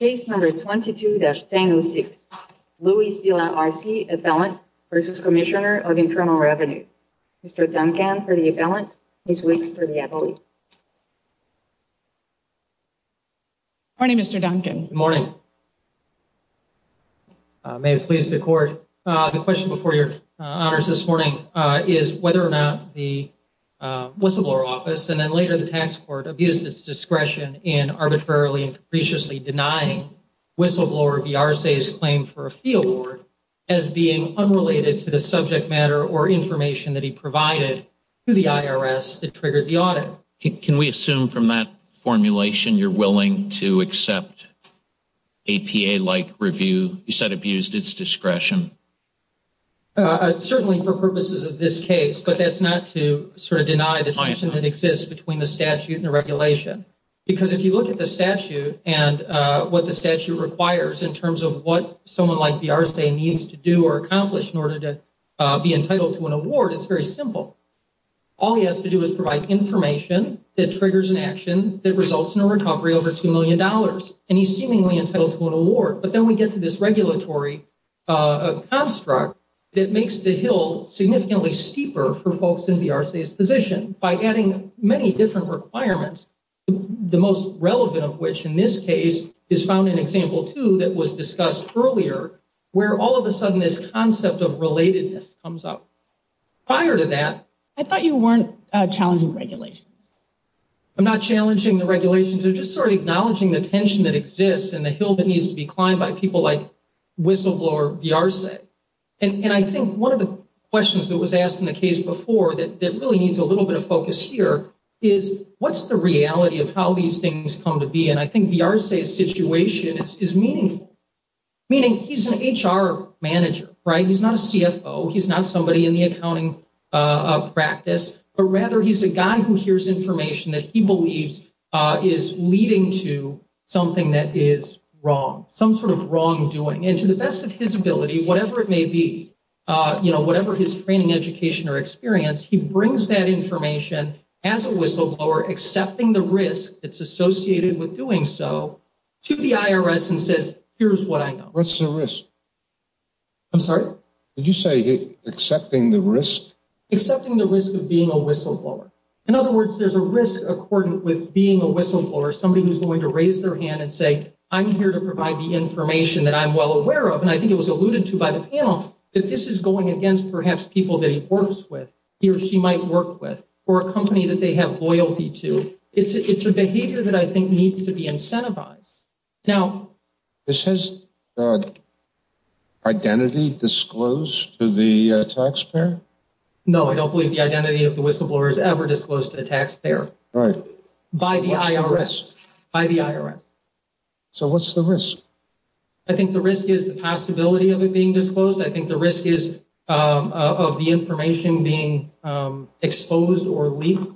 Case No. 22-1006, Luis Villa-Arce, appellant v. Cmsnr of Internal Revenue. Mr. Duncan for the appellant, Ms. Weeks for the advocate. Good morning, Mr. Duncan. Good morning. May it please the court, the question before your honors this morning is whether or not the whistleblower office, and then later the tax court, abused its discretion in arbitrarily and capriciously denying whistleblower v. Arce's claim for a fee award as being unrelated to the subject matter or information that he provided to the IRS that triggered the audit. Can we assume from that formulation you're willing to accept APA-like review? You said abused its discretion. Certainly for purposes of this case, but that's not to sort of deny the distinction that exists between the statute and the regulation. Because if you look at the statute and what the statute requires in terms of what someone like v. Arce needs to do or accomplish in order to be entitled to an award, it's very simple. All he has to do is provide information that triggers an action that results in a recovery over $2 million. And he's seemingly entitled to an award. But then we get to this regulatory construct that makes the hill significantly steeper for folks in v. Arce's position. By adding many different requirements, the most relevant of which in this case is found in example two that was discussed earlier, where all of a sudden this concept of relatedness comes up. Prior to that- I thought you weren't challenging regulations. I'm not challenging the regulations. I'm just sort of acknowledging the tension that exists and the hill that needs to be climbed by people like Whistleblower v. Arce. And I think one of the questions that was asked in the case before that really needs a little bit of focus here is what's the reality of how these things come to be? And I think v. Arce's situation is meaningful, meaning he's an HR manager, right? He's not a CFO. He's not somebody in the accounting practice, but rather he's a guy who hears information that he believes is leading to something that is wrong, some sort of wrongdoing. And to the best of his ability, whatever it may be, you know, whatever his training, education or experience, he brings that information as a whistleblower accepting the risk that's associated with doing so to the IRS and says, here's what I know. What's the risk? I'm sorry? Did you say accepting the risk? Accepting the risk of being a whistleblower. In other words, there's a risk according with being a whistleblower, somebody who's going to raise their hand and say, I'm here to provide the information that I'm well aware of, and I think it was alluded to by the panel, that this is going against perhaps people that he works with, he or she might work with, or a company that they have loyalty to. It's a behavior that I think needs to be incentivized. Now, this has identity disclosed to the taxpayer? No, I don't believe the identity of the whistleblower is ever disclosed to the taxpayer. Right. By the IRS. By the IRS. So what's the risk? I think the risk is the possibility of it being disclosed. I think the risk is of the information being exposed or leaked.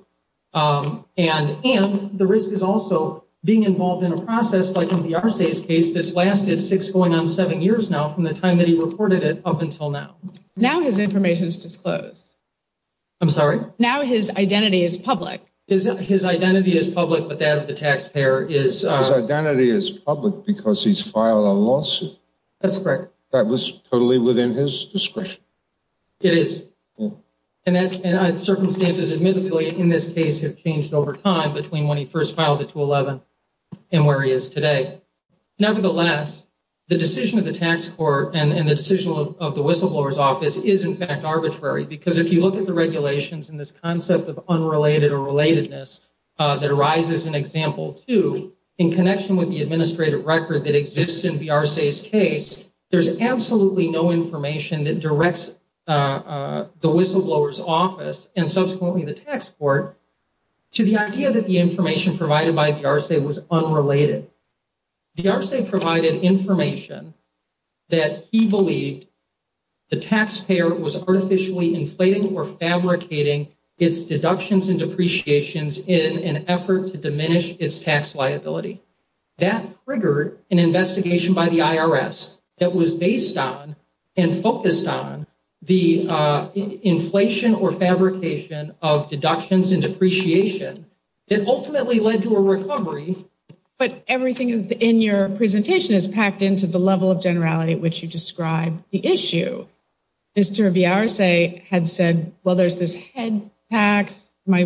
And the risk is also being involved in a process, like in the RSA's case, that's lasted six going on seven years now from the time that he reported it up until now. Now his information is disclosed. I'm sorry? Now his identity is public. His identity is public, but that of the taxpayer is. His identity is public because he's filed a lawsuit. That's correct. That was totally within his discretion. It is. And circumstances, admittedly, in this case, have changed over time between when he first filed it to 11 and where he is today. Nevertheless, the decision of the tax court and the decision of the whistleblower's office is, in fact, arbitrary, because if you look at the regulations and this concept of unrelated or relatedness that arises in example two, in connection with the administrative record that exists in the RSA's case, there's absolutely no information that directs the whistleblower's office and subsequently the tax court to the idea that the information provided by the RSA was unrelated. The RSA provided information that he believed the taxpayer was artificially inflating or fabricating its deductions and depreciations in an effort to diminish its tax liability. That triggered an investigation by the IRS that was based on and focused on the inflation or fabrication of deductions and depreciation. It ultimately led to a recovery. But everything in your presentation is packed into the level of generality at which you describe the issue. Mr. of the RSA had said, well, there's this head tax. Am I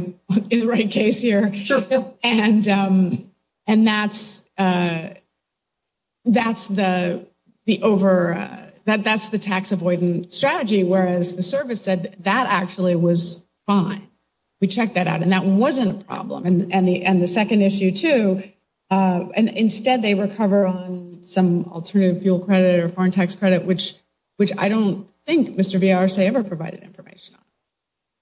in the right case here? Sure. And that's the tax avoidance strategy, whereas the service said that actually was fine. We checked that out, and that wasn't a problem. And the second issue, too, instead they recover on some alternative fuel credit or foreign tax credit, which I don't think Mr. of the RSA ever provided information on.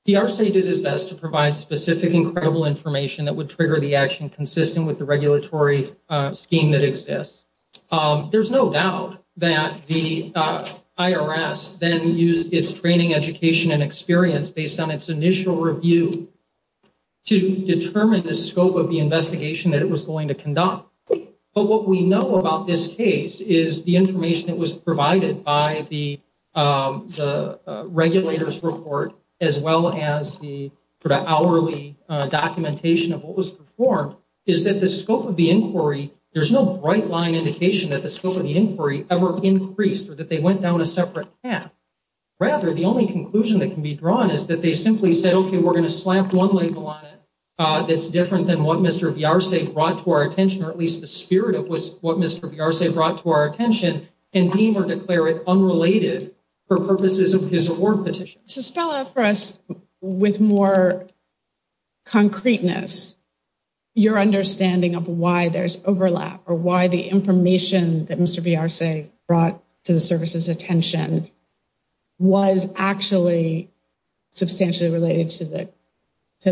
The RSA did its best to provide specific and credible information that would trigger the action consistent with the regulatory scheme that exists. There's no doubt that the IRS then used its training, education, and experience based on its initial review to determine the scope of the investigation that it was going to conduct. But what we know about this case is the information that was provided by the regulators' report, as well as the sort of hourly documentation of what was performed, is that the scope of the inquiry, there's no bright line indication that the scope of the inquiry ever increased or that they went down a separate path. Rather, the only conclusion that can be drawn is that they simply said, okay, we're going to slap one label on it that's different than what Mr. of the RSA brought to our attention, or at least the spirit of what Mr. of the RSA brought to our attention, and deem or declare it unrelated for purposes of his award petition. Suspella, for us, with more concreteness, your understanding of why there's overlap or why the information that Mr. of the RSA brought to the service's attention was actually substantially related to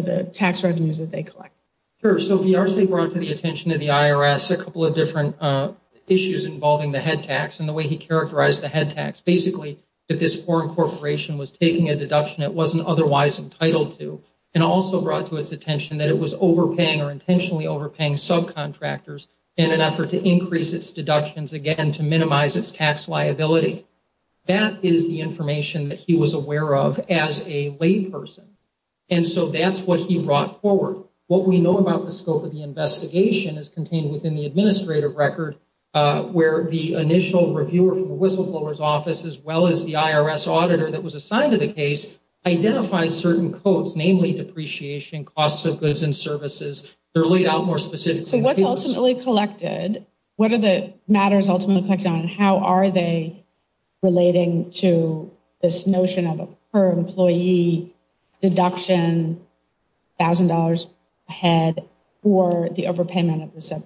the tax revenues that they collect. Sure. So the RSA brought to the attention of the IRS a couple of different issues involving the head tax and the way he characterized the head tax. Basically, if this foreign corporation was taking a deduction it wasn't otherwise entitled to, and also brought to its attention that it was overpaying or intentionally overpaying subcontractors in an effort to increase its deductions again to minimize its tax liability. That is the information that he was aware of as a lay person. And so that's what he brought forward. What we know about the scope of the investigation is contained within the administrative record, where the initial reviewer from the whistleblower's office, as well as the IRS auditor that was assigned to the case, identified certain codes, namely depreciation, costs of goods and services. They're laid out more specifically. So what's ultimately collected? What are the matters ultimately collected on, and how are they relating to this notion of a per-employee deduction, $1,000 a head for the overpayment of the subcontractor?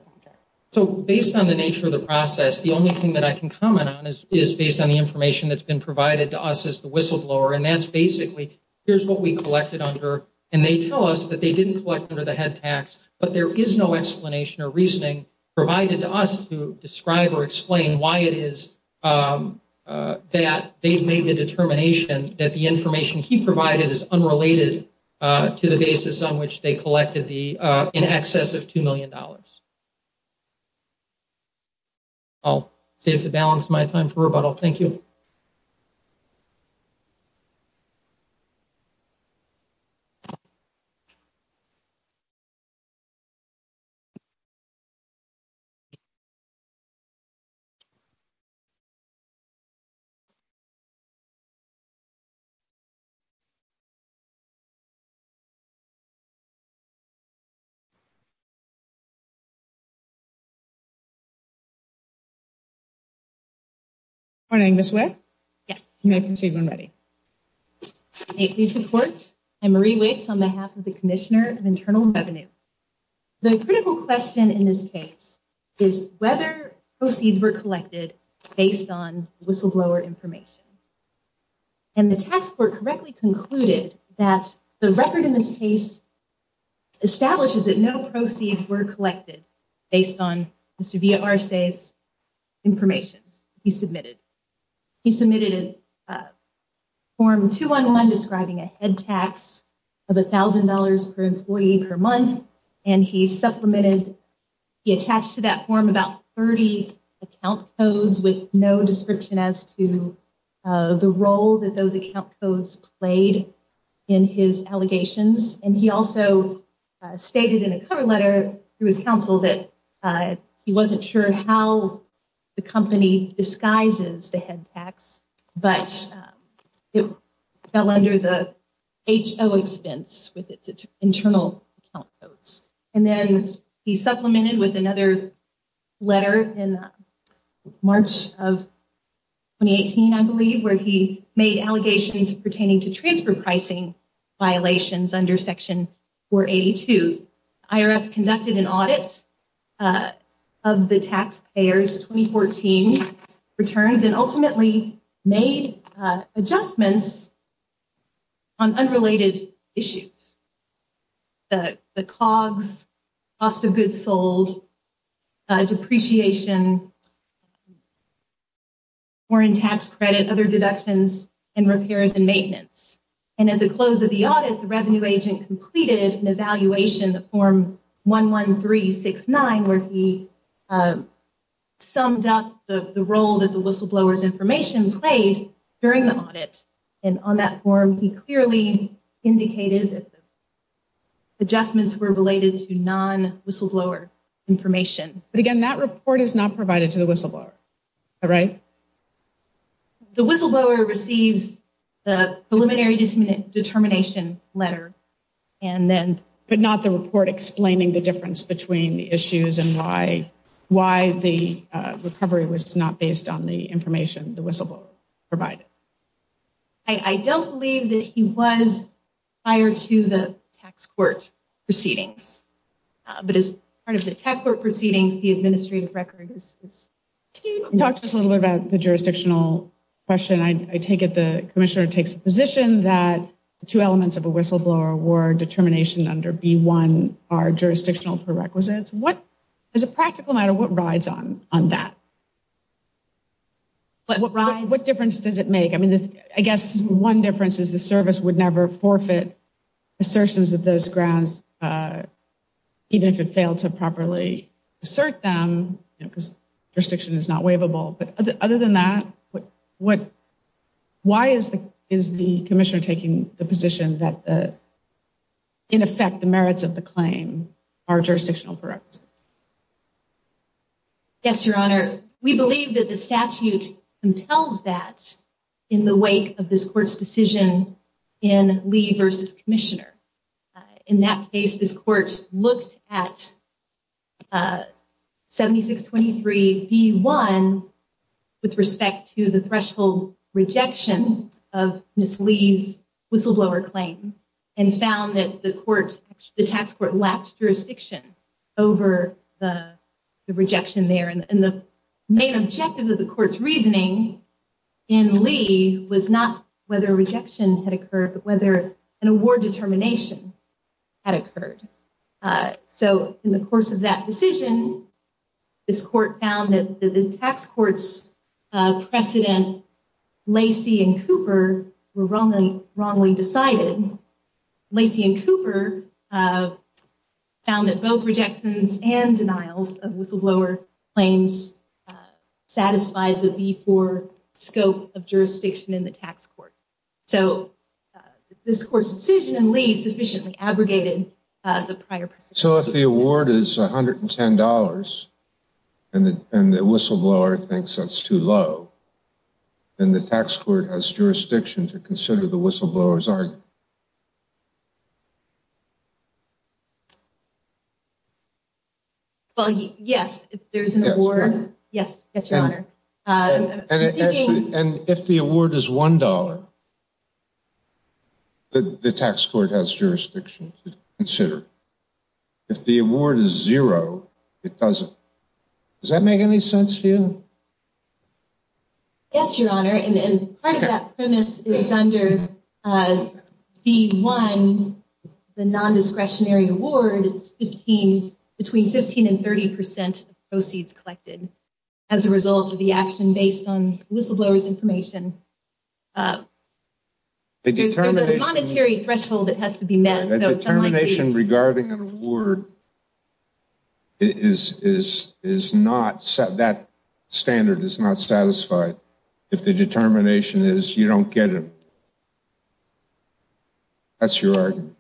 So based on the nature of the process, the only thing that I can comment on is based on the information that's been provided to us as the whistleblower, and that's basically, here's what we collected under, and they tell us that they didn't collect under the head tax, but there is no explanation or reasoning provided to us to describe or explain why it is that they've made the determination that the information he provided is unrelated to the basis on which they collected the in excess of $2 million. I'll save the balance of my time for rebuttal. Thank you. Good morning, Ms. Wicks. Yes. You may proceed when ready. Thank you for your support. I'm Marie Wicks on behalf of the Commissioner of Internal Revenue. The critical question in this case is whether proceeds were collected based on whistleblower information, and the task force correctly concluded that the record in this case establishes that no proceeds were collected based on Mr. Villarsay's information he submitted. He submitted a form 211 describing a head tax of $1,000 per employee per month, and he supplemented, he attached to that form about 30 account codes with no description as to the role that those account codes played in his allegations, and he also stated in a cover letter to his counsel that he wasn't sure how the company disguises the head tax, but it fell under the HO expense with its internal account codes. And then he supplemented with another letter in March of 2018, I believe, where he made allegations pertaining to transfer pricing violations under Section 482. IRS conducted an audit of the taxpayers' 2014 returns and ultimately made adjustments on unrelated issues, the COGS, cost of goods sold, depreciation, foreign tax credit, other deductions, and repairs and maintenance. And at the close of the audit, the revenue agent completed an evaluation of Form 11369 where he summed up the role that the whistleblower's information played during the audit, and on that form he clearly indicated that the adjustments were related to non-whistleblower information. But again, that report is not provided to the whistleblower, right? The whistleblower receives the preliminary determination letter, but not the report explaining the difference between the issues and why the recovery was not based on the information the whistleblower provided. I don't believe that he was prior to the tax court proceedings, but as part of the tax court proceedings, the administrative record is... Can you talk to us a little bit about the jurisdictional question? I take it the commissioner takes the position that the two elements of a whistleblower award determination under B-1 are jurisdictional prerequisites. As a practical matter, what rides on that? What difference does it make? I guess one difference is the service would never forfeit assertions of those grants, even if it failed to properly assert them, because jurisdiction is not waivable. But other than that, why is the commissioner taking the position that, in effect, the merits of the claim are jurisdictional prerequisites? Yes, Your Honor. We believe that the statute compels that in the wake of this court's decision in Lee v. Commissioner. In that case, this court looked at 7623 B-1 with respect to the threshold rejection of Ms. Lee's whistleblower claim and found that the tax court lacked jurisdiction over the rejection there. And the main objective of the court's reasoning in Lee was not whether rejection had occurred, but whether an award determination had occurred. So in the course of that decision, this court found that the tax court's precedent, Lacey and Cooper, were wrongly decided. Lacey and Cooper found that both rejections and denials of whistleblower claims satisfied the B-4 scope of jurisdiction in the tax court. So this court's decision in Lee sufficiently abrogated the prior precedent. So if the award is $110 and the whistleblower thinks that's too low, then the tax court has jurisdiction to consider the whistleblower's argument? Well, yes, if there's an award. Yes, Your Honor. And if the award is $1, the tax court has jurisdiction to consider. If the award is zero, it doesn't. Does that make any sense to you? Yes, Your Honor. And part of that premise is under B-1, the non-discretionary award, it's between 15 and 30 percent of proceeds collected as a result of the action based on whistleblower's information. There's a monetary threshold that has to be met. A determination regarding an award, that standard is not satisfied. If the determination is you don't get it, that's your argument?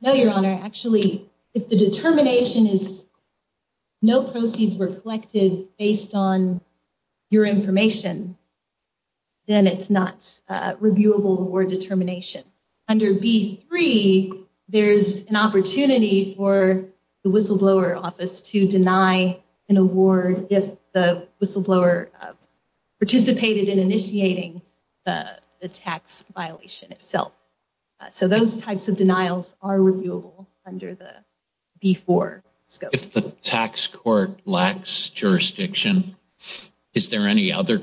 No, Your Honor. Actually, if the determination is no proceeds were collected based on your information, then it's not reviewable award determination. Under B-3, there's an opportunity for the whistleblower office to deny an award if the whistleblower participated in initiating the tax violation itself. So those types of denials are reviewable under the B-4 scope. If the tax court lacks jurisdiction, is there any other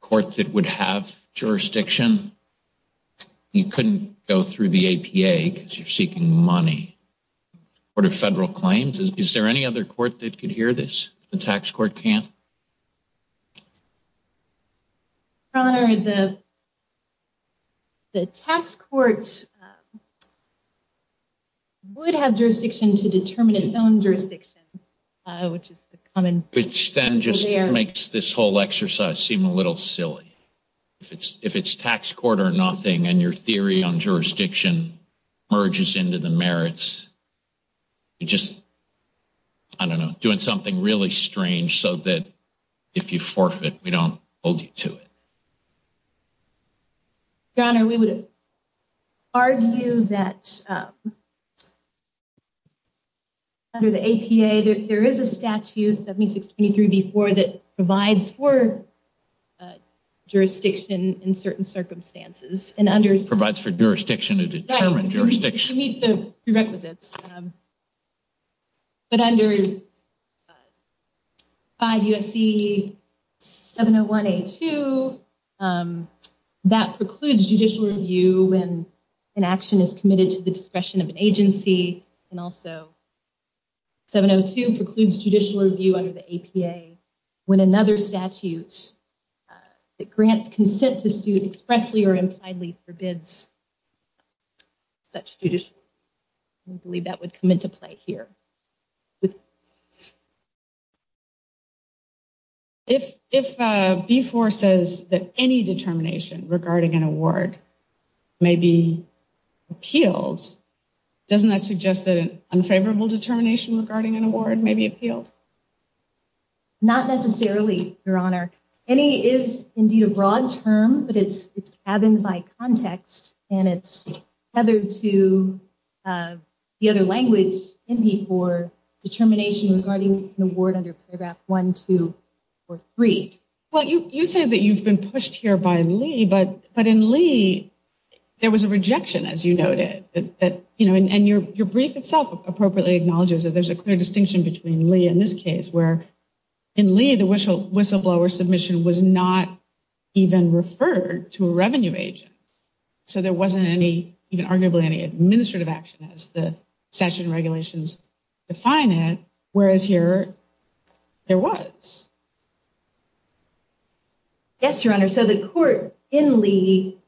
court that would have jurisdiction? You couldn't go through the APA because you're seeking money for federal claims. Is there any other court that could hear this? The tax court can't? Your Honor, the tax court would have jurisdiction to determine its own jurisdiction. Which then just makes this whole exercise seem a little silly. If it's tax court or nothing and your theory on jurisdiction merges into the merits, you're just doing something really strange so that if you forfeit, we don't hold you to it. Your Honor, we would argue that under the APA, there is a statute 7623B-4 that provides for jurisdiction in certain circumstances. Provides for jurisdiction to determine jurisdiction. It should meet the prerequisites. But under 5 U.S.C. 701A-2, that precludes judicial review when an action is committed to the discretion of an agency and also 702 precludes judicial review under the APA when another statute that grants consent to sue expressly or impliedly forbids such judicial review. We believe that would come into play here. If B-4 says that any determination regarding an award may be appealed, doesn't that suggest that an unfavorable determination regarding an award may be appealed? Not necessarily, Your Honor. Any is indeed a broad term, but it's gathered by context, and it's tethered to the other language in B-4 determination regarding an award under Paragraph 1, 2, or 3. Well, you say that you've been pushed here by Lee, but in Lee, there was a rejection, as you noted. And your brief itself appropriately acknowledges that there's a clear distinction between Lee and this case, where in Lee, the whistleblower submission was not even referred to a revenue agent. So there wasn't even arguably any administrative action, as the statute and regulations define it, whereas here, there was. Yes, Your Honor, so the court in Lee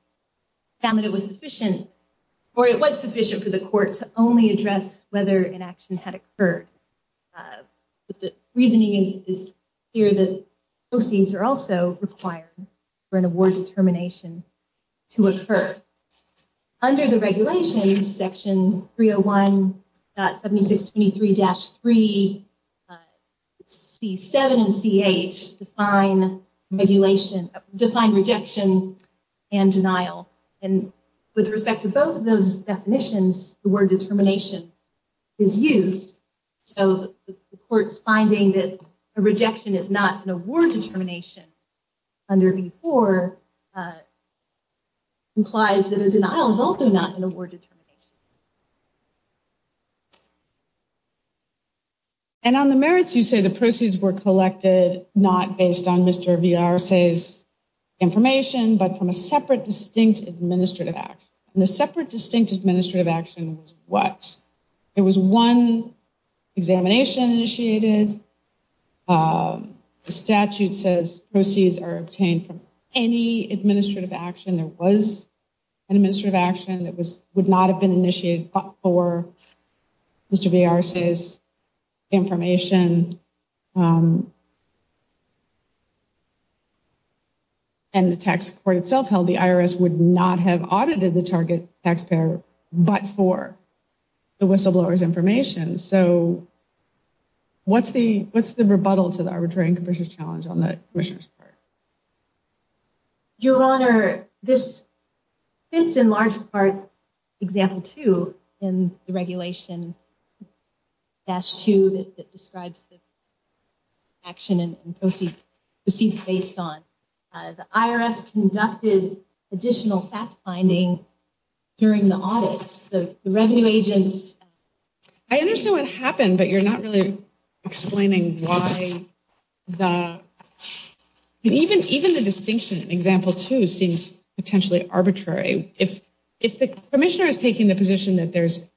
found that it was sufficient, or it was sufficient for the court to only address whether an action had occurred. But the reasoning is here that proceeds are also required for an award determination to occur. Under the regulations, Section 301.7623-3, C-7 and C-8 define rejection and denial. And with respect to both of those definitions, the word determination is used. So the court's finding that a rejection is not an award determination under B-4 implies that a denial is also not an award determination. And on the merits, you say the proceeds were collected not based on Mr. Villar's information, but from a separate, distinct administrative action. And the separate, distinct administrative action was what? It was one examination initiated. The statute says proceeds are obtained from any administrative action. There was an administrative action that would not have been initiated but for Mr. Villar's information. And the tax court itself held the IRS would not have audited the target taxpayer, but for the whistleblower's information. So what's the rebuttal to the arbitrary and capricious challenge on the commissioner's part? Your Honor, this fits in large part example two in the regulation, dash two that describes the action and proceeds based on. The IRS conducted additional fact-finding during the audit. The revenue agents. I understand what happened, but you're not really explaining why the, even the distinction in example two seems potentially arbitrary. If the commissioner is taking the position that there's,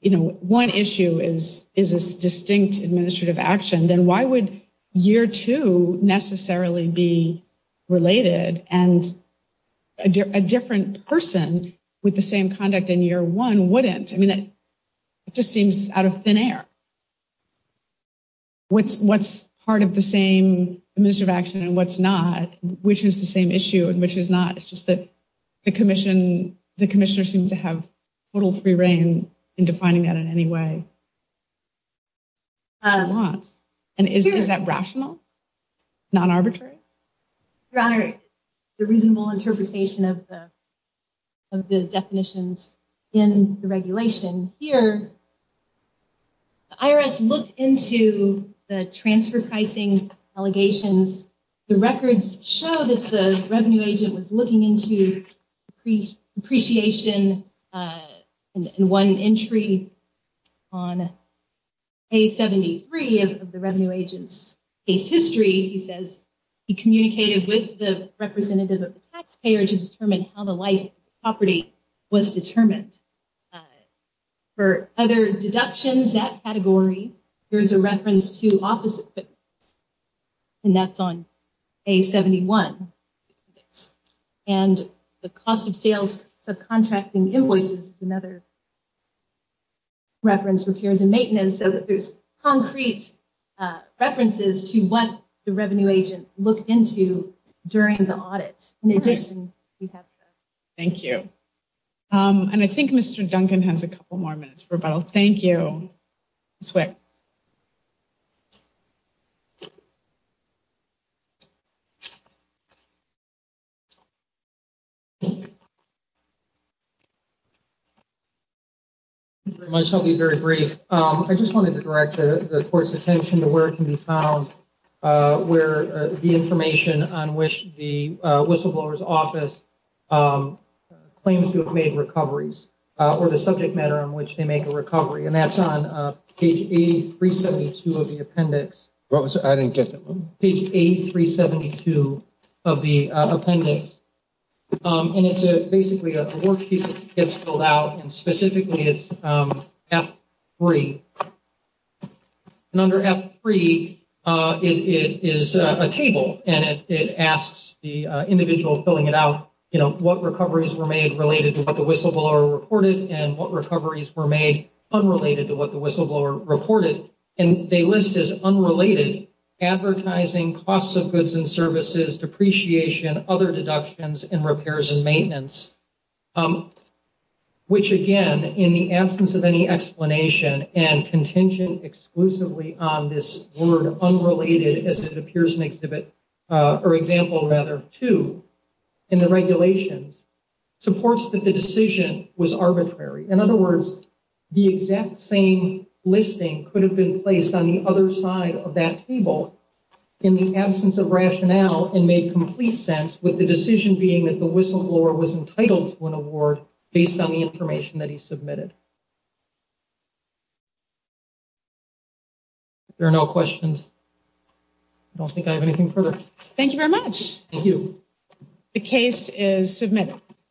you know, one issue is a distinct administrative action, then why would year two necessarily be related and a different person with the same conduct in year one wouldn't? I mean, it just seems out of thin air. What's part of the same administrative action and what's not? Which is the same issue and which is not? It's just that the commissioner seems to have total free reign in defining that in any way. And is that rational? Non-arbitrary? Your Honor, the reasonable interpretation of the definitions in the regulation. The IRS looked into the transfer pricing allegations. The records show that the revenue agent was looking into depreciation in one entry on page 73 of the revenue agent's case history. He says he communicated with the representative of the taxpayer to determine how the life property was determined. For other deductions, that category, there's a reference to office equipment. And that's on page 71. And the cost of sales subcontracting invoices is another reference. Repairs and maintenance. So there's concrete references to what the revenue agent looked into during the audit. In addition, we have. Thank you. And I think Mr. Duncan has a couple more minutes for rebuttal. Thank you. I'll be very brief. I just wanted to direct the court's attention to where it can be found. Where the information on which the whistleblower's office claims to have made recoveries. Or the subject matter on which they make a recovery. And that's on page 8372 of the appendix. What was it? I didn't get that one. Page 8372 of the appendix. And it's basically a worksheet that gets filled out. And specifically, it's F3. And under F3, it is a table. And it asks the individual filling it out, you know, what recoveries were made related to what the whistleblower reported. And what recoveries were made unrelated to what the whistleblower reported. And they list as unrelated advertising, costs of goods and services, depreciation, other deductions, and repairs and maintenance. Which, again, in the absence of any explanation, and contingent exclusively on this word unrelated, as it appears in exhibit, or example, rather, 2, in the regulations, supports that the decision was arbitrary. In other words, the exact same listing could have been placed on the other side of that table in the absence of rationale and made complete sense with the decision being that the whistleblower was entitled to an award based on the information that he submitted. If there are no questions, I don't think I have anything further. Thank you very much. Thank you. The case is submitted.